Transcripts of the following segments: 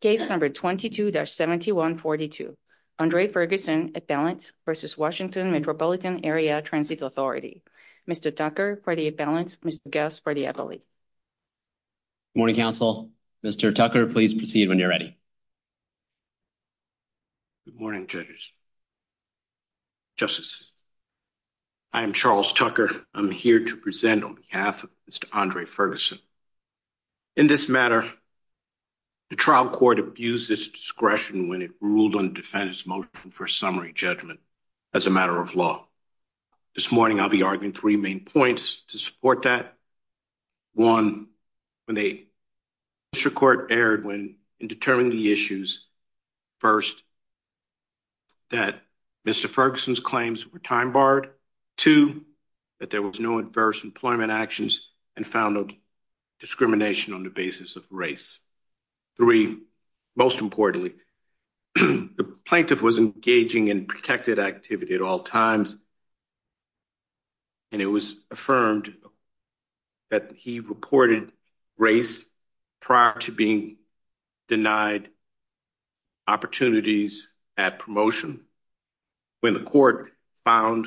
Case number 22-7142. Andre Ferguson, at balance, versus Washington Metropolitan Area Transit Authority. Mr. Tucker, for the at balance. Mr. Guest, for the appellate. Good morning, counsel. Mr. Tucker, please proceed when you're ready. Good morning, judges. Justices, I am Charles Tucker. I'm here to present on behalf of Mr. Andre Ferguson. In this matter, the trial court abused its discretion when it ruled on the defendant's motion for a summary judgment as a matter of law. This morning, I'll be arguing three main points to support that. One, Mr. Court erred in determining the issues. First, that Mr. Ferguson's claims were time-barred. Two, that there was no adverse employment actions and found no discrimination on the basis of race. Three, most importantly, the plaintiff was engaging in protected activity at all times, and it was affirmed that he reported race prior to being denied opportunities at promotion. When the court found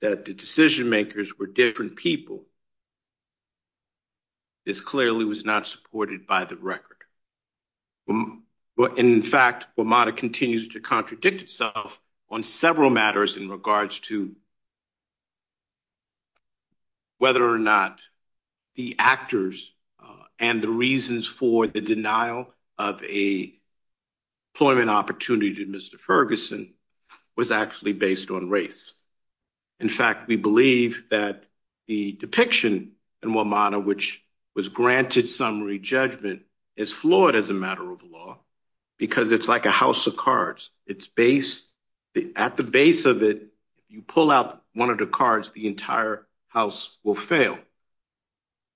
that the decision-makers were different people, this clearly was not supported by the record. In fact, WMATA continues to contradict itself on several matters in regards to whether or not the actors and the reasons for the denial of a employment opportunity to Mr. Ferguson was actually based on race. In fact, we believe that the depiction in WMATA, which was granted summary judgment, is flawed as a matter of law because it's like a house of cards. At the base of it, if you pull out one of the cards, the entire house will fail.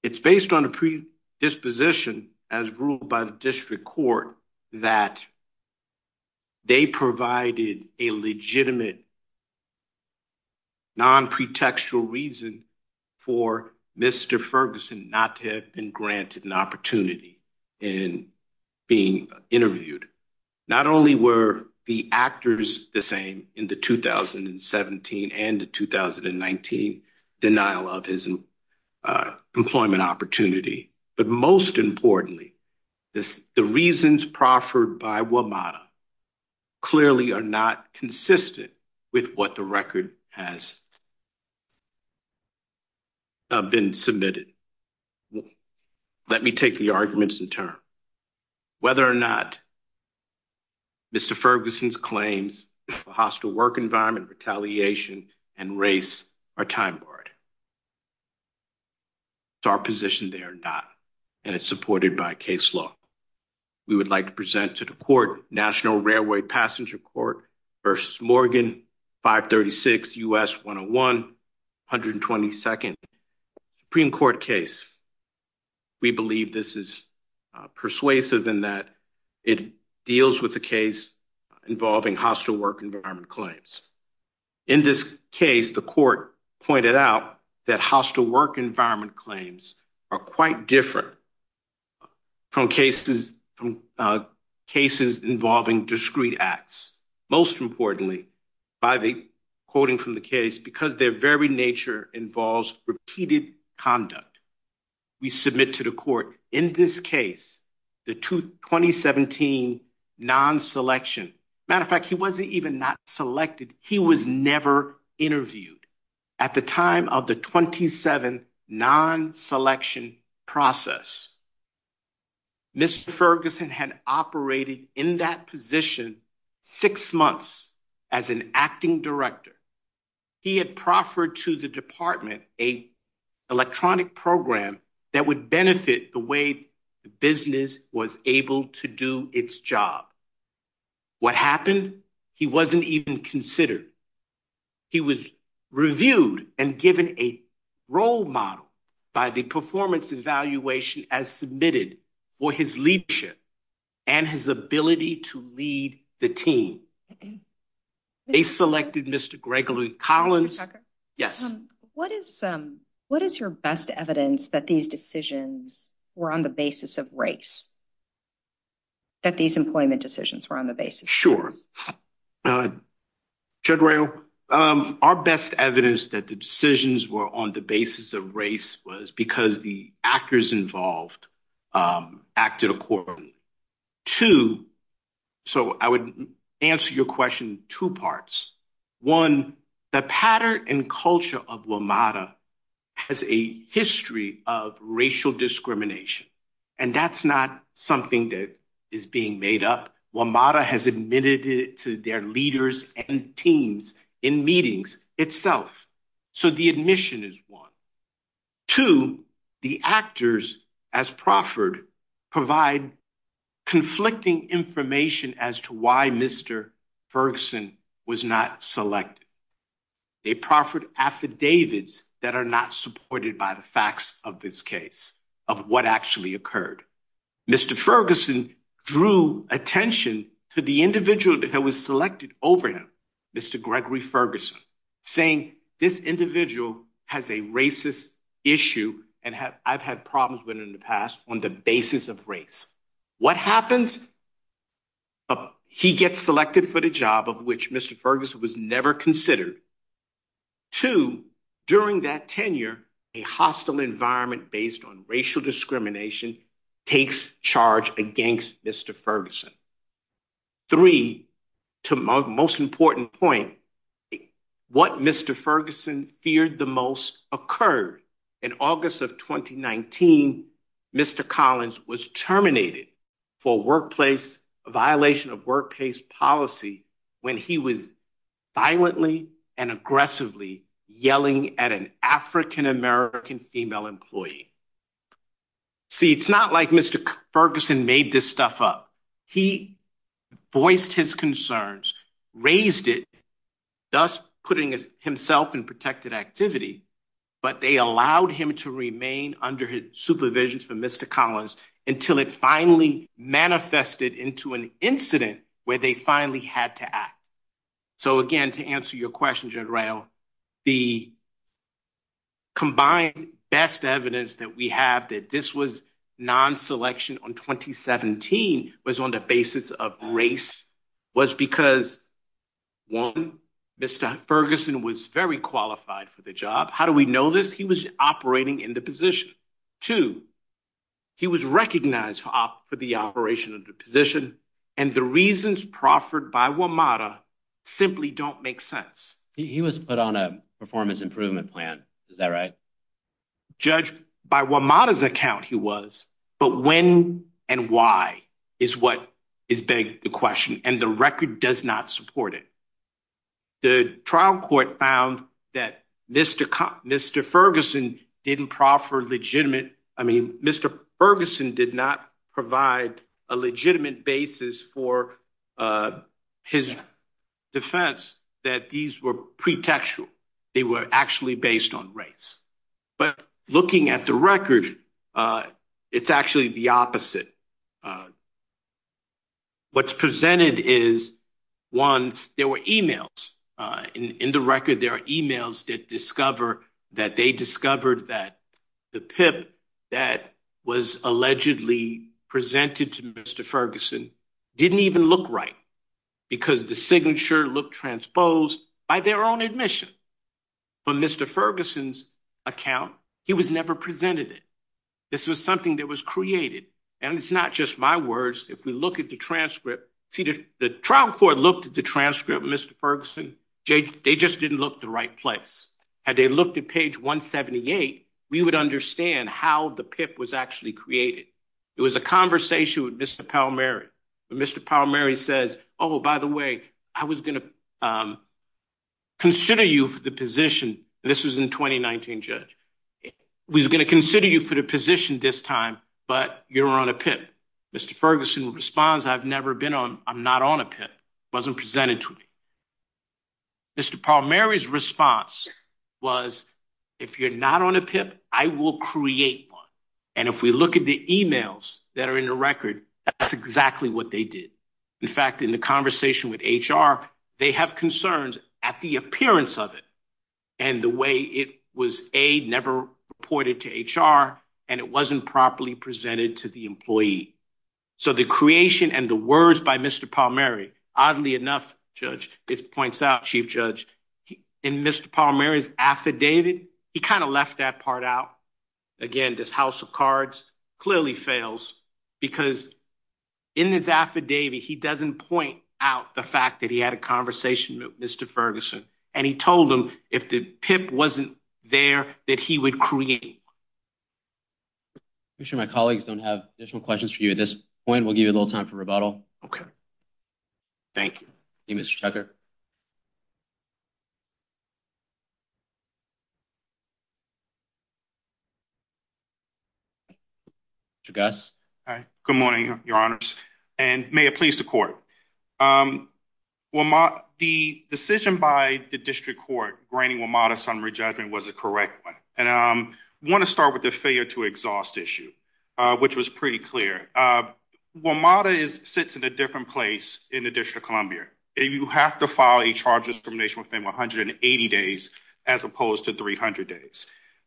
It's based on a predisposition as ruled by the district court that they provided a legitimate, non-pretextual reason for Mr. Ferguson not to have been granted an opportunity in being interviewed. Not only were the actors the same in the 2017 and the 2019 denial of his employment opportunity, but most importantly, the reasons proffered by WMATA clearly are not consistent with what the record has been submitted. Let me take the arguments in turn. Whether or not Mr. Ferguson's claims of hostile work environment, retaliation, and race are time-barred. It's our position they are not, and it's supported by case law. We would like to present to the court National Railway Passenger Court v. Morgan, 536 U.S. 101, 122nd Supreme Court case. We believe this is persuasive in that it deals with a case involving hostile work environment claims. In this case, the court pointed out that hostile work environment claims are quite different from cases involving discrete acts. Most importantly, by the quoting from the case, because their very nature involves repeated conduct. We submit to the court in this case, the 2017 non-selection. Matter of fact, he wasn't even not selected. He was never interviewed. At the time of the 27th non-selection process, Mr. Ferguson had operated in that position six months as an acting director. He had proffered to the department an electronic program that would benefit the way the business was able to do its job. What happened? He wasn't even considered. He was reviewed and given a role model by the performance evaluation as submitted for his leadership and his ability to lead the team. They selected Mr. Gregory Collins. Yes. What is your best evidence that these decisions were on the basis of race? That these employment decisions were on the basis? Sure. Our best evidence that the decisions were on the basis of race was because the actors involved acted accordingly. I would answer your question in two parts. One, the pattern and culture of WMATA has a history of racial discrimination. That's not something that is being made up. WMATA has admitted it to their leaders and teams in meetings itself. The admission is one. Two, the actors as proffered provide conflicting information as to why Mr. Ferguson was not selected. They proffered affidavits that are not supported by the facts of this case, of what actually occurred. Mr. Ferguson drew attention to the individual that was selected over him, Mr. Gregory Ferguson, saying this individual has a racist issue and I've had problems with in the past on the basis of race. What happens? He gets selected for the job of which Mr. Ferguson was never considered. Two, during that tenure, a hostile environment based on racial discrimination takes charge against Mr. Ferguson. Three, to my most important point, what Mr. Ferguson feared the most occurred. In August of 2019, Mr. Collins was terminated for workplace violation of workplace policy when he was violently and aggressively yelling at an African-American female employee. See, it's not like Mr. Ferguson made this stuff up. He voiced his concerns, raised it, thus putting himself in protected activity, but they allowed him to remain under his supervision for Mr. Collins until it finally manifested into an incident where they finally had to act. So again, to answer your question, General, the combined best evidence that we have that this was non-selection on 2017 was on the basis of race was because, one, Mr. Ferguson was very qualified for the job. How do we know this? He was operating in the position. Two, he was recognized for the operation of the position and the reasons proffered by WMATA simply don't make sense. He was put on a performance improvement plan. Is that right? Judged by WMATA's account, he was, but when and why is what is beg the question and the record does not support it. The trial court found that Mr. Ferguson didn't proffer a legitimate basis for his defense that these were pretextual. They were actually based on race. But looking at the record, it's actually the opposite. What's presented is, one, there were emails. In the record, there are emails that discover that they discovered that the PIP that was allegedly presented to Mr. Ferguson didn't even look right because the signature looked transposed by their own admission. But Mr. Ferguson's account, he was never presented it. This was something that was created and it's not just my words. If we look at the transcript, the trial court looked at the transcript, Mr. Ferguson looked at page 178, we would understand how the PIP was actually created. It was a conversation with Mr. Palmieri. Mr. Palmieri says, oh, by the way, I was going to consider you for the position. This was in 2019, Judge. We were going to consider you for the position this time, but you're on a PIP. Mr. Ferguson responds, I've never been on, I'm not on a PIP. It wasn't if you're not on a PIP, I will create one. And if we look at the emails that are in the record, that's exactly what they did. In fact, in the conversation with HR, they have concerns at the appearance of it and the way it was, A, never reported to HR, and it wasn't properly presented to the employee. So the creation and the words by Mr. Palmieri, oddly enough, Judge, it points out, Chief Judge, in Mr. Palmieri's affidavit, he kind of left that part out. Again, this house of cards clearly fails because in his affidavit, he doesn't point out the fact that he had a conversation with Mr. Ferguson. And he told him if the PIP wasn't there, that he would create. I'm sure my colleagues don't have additional questions for you at this point. We'll give a little time for rebuttal. Okay. Thank you. Hey, Mr. Tucker. Mr. Gus. Good morning, your honors. And may it please the court. The decision by the district court, granting WMATA summary judgment was a correct one. Want to start with the failure to exhaust issue, which was pretty clear. WMATA sits in a different place in the District of Columbia. You have to file a charge discrimination within 180 days, as opposed to 300 days.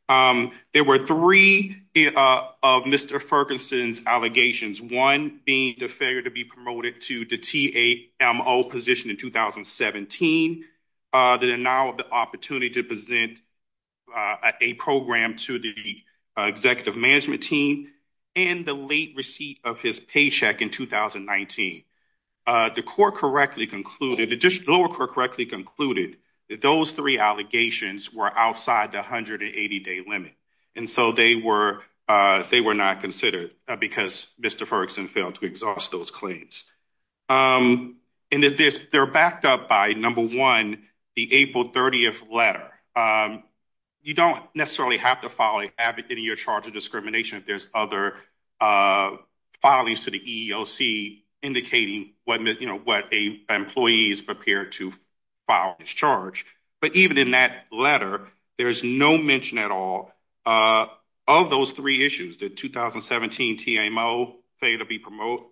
There were three of Mr. Ferguson's allegations, one being the failure to promote to the TAMO position in 2017, the denial of the opportunity to present a program to the executive management team, and the late receipt of his paycheck in 2019. The court correctly concluded, the district lower court correctly concluded that those three allegations were outside the 180 day limit. And so they were, they were not considered because Mr. Ferguson failed to exhaust those claims. And that they're backed up by number one, the April 30th letter. You don't necessarily have to file a, have it in your charge of discrimination if there's other filings to the EEOC indicating what, you know, what a employee is prepared to file this charge. But even in that letter, there's no mention at all of those three issues, the 2017 TAMO failure to promote,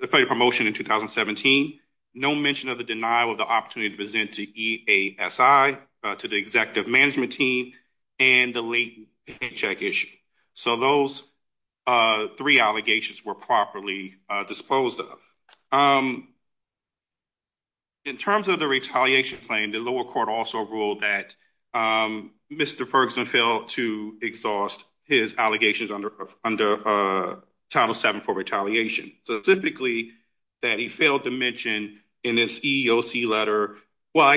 the failure to promotion in 2017, no mention of the denial of the opportunity to present to EASI, to the executive management team, and the late paycheck issue. So those three allegations were properly disposed of. In terms of the retaliation claim, the lower court also ruled that Mr. Ferguson failed to exhaust his allegations under Title VII for retaliation. Specifically, that he failed to mention in his EEOC letter, well,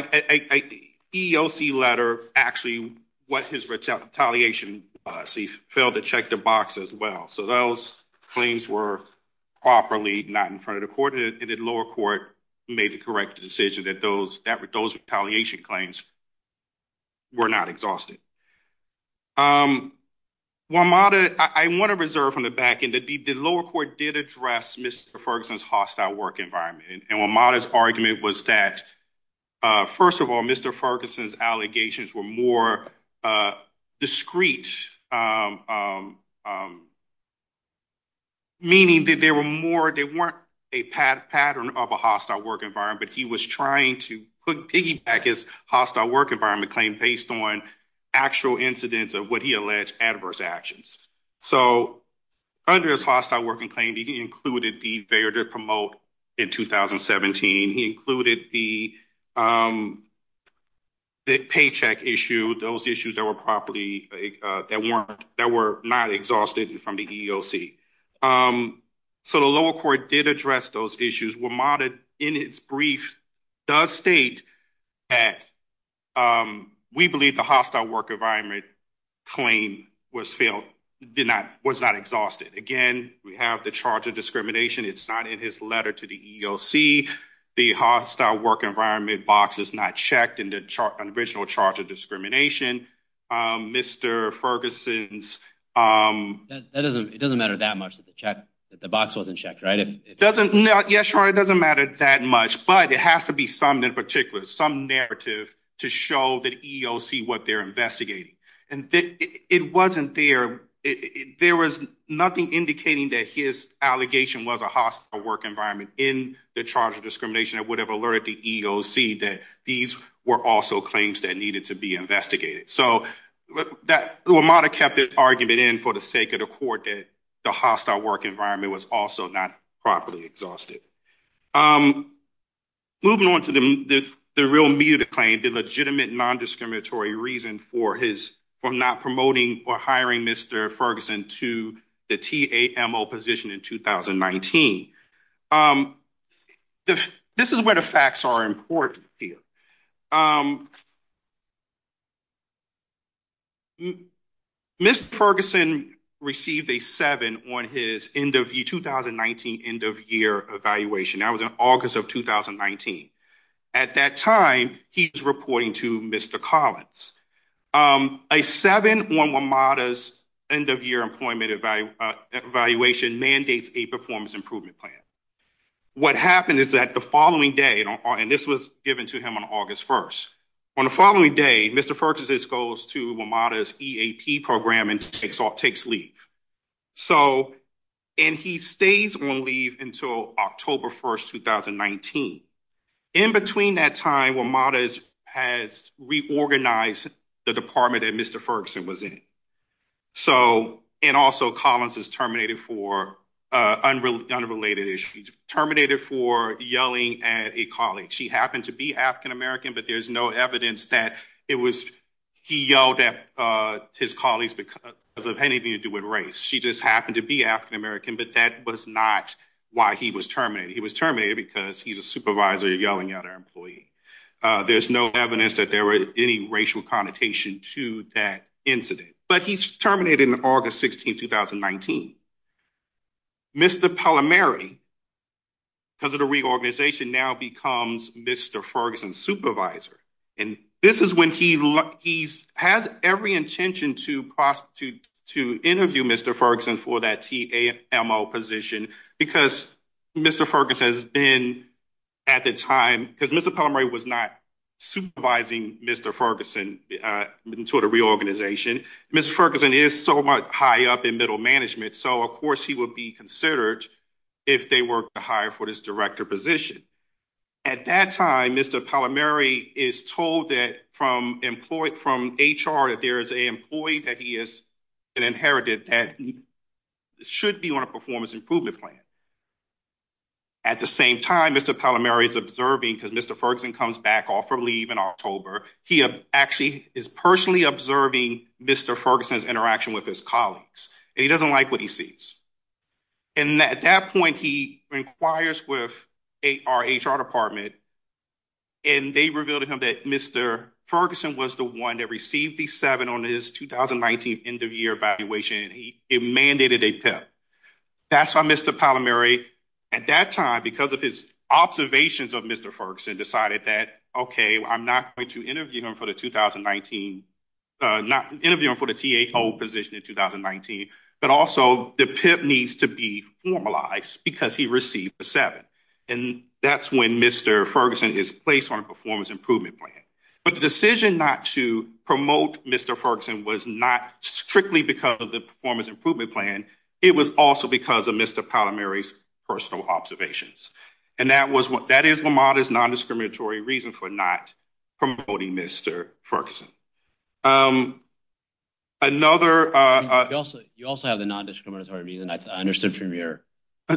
EEOC letter actually, what his retaliation was, he failed to check the box as well. So those claims were properly not in front of the court, and the lower court made the correct decision that those, retaliation claims were not exhausted. WMATA, I want to reserve on the back end that the lower court did address Mr. Ferguson's hostile work environment. And WMATA's argument was that, first of all, Mr. Ferguson's allegations were more discrete, meaning that there were more, they weren't a pattern of a hostile work environment, but he was trying to piggyback his hostile work environment claim based on actual incidents of what he alleged adverse actions. So under his hostile working claim, he included the failure to promote in 2017, he included the paycheck issue, those issues that were properly, that weren't, that were not exhausted from the EEOC. So the lower court did address those issues, WMATA, in its brief, does state that we believe the hostile work environment claim was failed, did not, was not exhausted. Again, we have the charge of discrimination, it's not in his letter to the EEOC. The hostile work environment box is not checked in the original charge of discrimination. Mr. Ferguson's... That doesn't, it doesn't matter that much that the check, that the box wasn't checked, right? It doesn't, no, yeah, sure, it doesn't matter that much, but it has to be some, in particular, some narrative to show the EEOC what they're investigating. And it wasn't there, there was nothing indicating that his allegation was a hostile work environment in the charge of discrimination that would have alerted the EEOC that these were also claims that needed to be investigated. So that, WMATA kept this argument in for the sake of the court that the hostile work environment was also not properly exhausted. Moving on to the real MUTA claim, the legitimate non-discriminatory reason for his, for not promoting or hiring Mr. Ferguson to the TAMO position in 2019. This is where the facts are important here. Mr. Ferguson received a 7 on his end of year, 2019 end of year evaluation. That was in August of 2019. At that time, he's reporting to Mr. Collins. A 7 on WMATA's end of year employment evaluation mandates a performance improvement plan. What happened is that the following day, and this was to him on August 1st. On the following day, Mr. Ferguson goes to WMATA's EAP program and takes leave. So, and he stays on leave until October 1st, 2019. In between that time, WMATA has reorganized the department that Mr. Ferguson was in. So, and also Collins is terminated for unrelated issues, terminated for yelling at a colleague. She happened to be African-American, but there's no evidence that it was, he yelled at his colleagues because of anything to do with race. She just happened to be African-American, but that was not why he was terminated. He was terminated because he's a supervisor yelling at our employee. There's no evidence that there were any racial connotation to that incident, but he's terminated in August 16th, 2019. Mr. Pallamary, because of the reorganization, now becomes Mr. Ferguson's supervisor. And this is when he has every intention to interview Mr. Ferguson for that TAMO position, because Mr. Ferguson has been at the time, because Mr. Pallamary was not supervising Mr. Ferguson until the reorganization, Mr. Ferguson is so much high up in middle management. So of course, he would be considered if they were to hire for this director position. At that time, Mr. Pallamary is told that from HR, that there is an employee that he has inherited that should be on a performance improvement plan. At the same time, Mr. Pallamary is observing because Mr. Ferguson comes back off for leave in October. He actually is personally observing Mr. Ferguson's interaction with his colleagues, and he doesn't like what he sees. And at that point, he inquires with our HR department, and they revealed to him that Mr. Ferguson was the one that received the seven on his 2019 end of year evaluation, and he mandated a PIP. That's why Mr. Pallamary, at that time, because of his observations of Mr. Ferguson, decided that, okay, I'm not going to interview him for the 2019, not interviewing for the THO position in 2019, but also the PIP needs to be formalized because he received the seven. And that's when Mr. Ferguson is placed on a performance improvement plan. But the decision not to promote Mr. Ferguson was not strictly because of the performance improvement plan. It was also because of Mr. Pallamary's personal observations. And that is Lamarda's non-discriminatory reason for not promoting Mr. Ferguson. Another... You also have the non-discriminatory reason. I understood from your...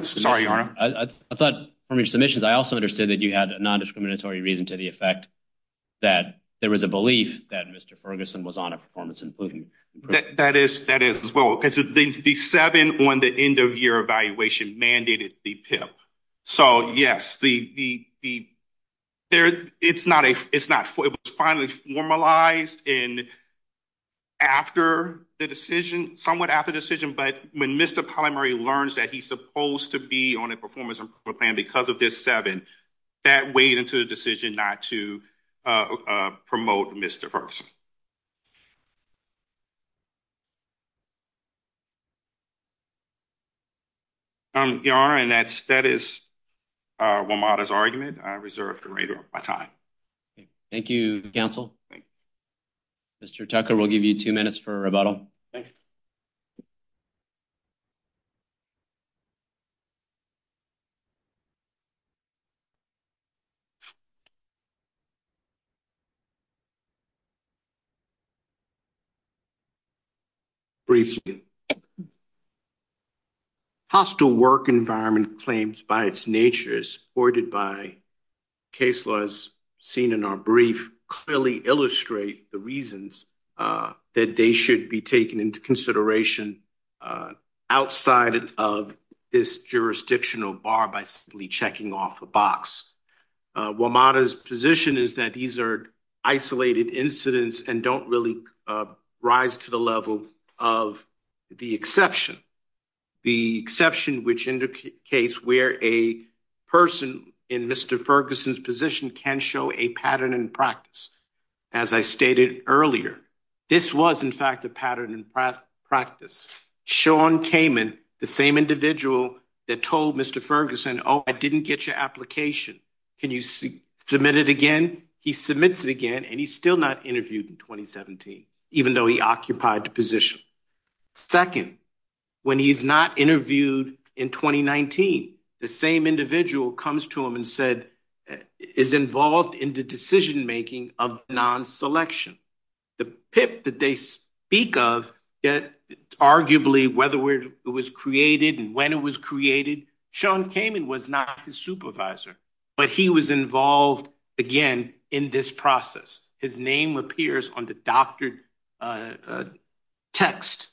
Sorry, Your Honor. I thought from your submissions, I also understood that you had a non-discriminatory reason to the effect that there was a belief that Mr. Ferguson was on a performance improvement plan. That is as well, because the seven on the end-of-year evaluation mandated the PIP. So, yes, it's not... It was finally formalized and after the decision, somewhat after the decision, but when Mr. Pallamary learns that he's supposed to be on a performance improvement plan because of this seven, that weighed into the decision not to promote Mr. Ferguson. Your Honor, and that is Lamarda's argument. I reserve the right of my time. Thank you, counsel. Mr. Tucker, we'll give you two minutes for a rebuttal. Briefly. Hostile work environment claims by its nature, supported by case laws seen in our brief, clearly illustrate the reasons that they should be taken into consideration outside of this jurisdictional bar by simply checking off a box. Lamarda's position is that these are isolated incidents and don't really rise to the level of the exception. The exception which indicates where a person in Mr. Ferguson's position can show a pattern in practice. As I stated earlier, this was in fact a pattern in practice. Sean Kamen, the same he submits it again and he's still not interviewed in 2017, even though he occupied the position. Second, when he's not interviewed in 2019, the same individual comes to him and said, is involved in the decision making of non-selection. The PIP that they speak of, arguably whether it was created and when it was created, Sean Kamen was not his supervisor, but he was involved again in this process. His name appears on the doctored text.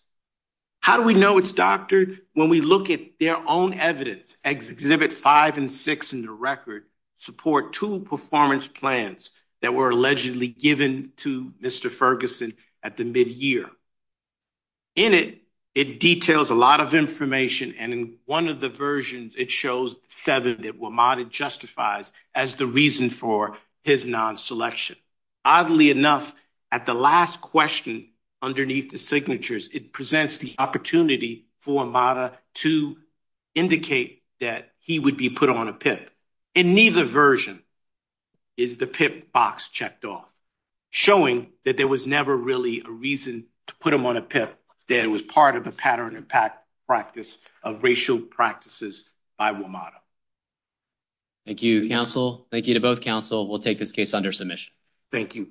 How do we know it's doctored? When we look at their own evidence, exhibit five and six in the record, support two performance plans that were allegedly given to Mr. Ferguson at the mid-year. In it, it details a lot of information and in one of the versions, it shows seven that WMATA justifies as the reason for his non-selection. Oddly enough, at the last question underneath the signatures, it presents the opportunity for WMATA to indicate that he would be put on a PIP. In neither version is the PIP box checked off, showing that there was never really a reason to put him on a PIP, that it was part of a pattern in practice of racial practices by WMATA. Thank you, counsel. Thank you to both counsel. We'll take this case under submission. Thank you.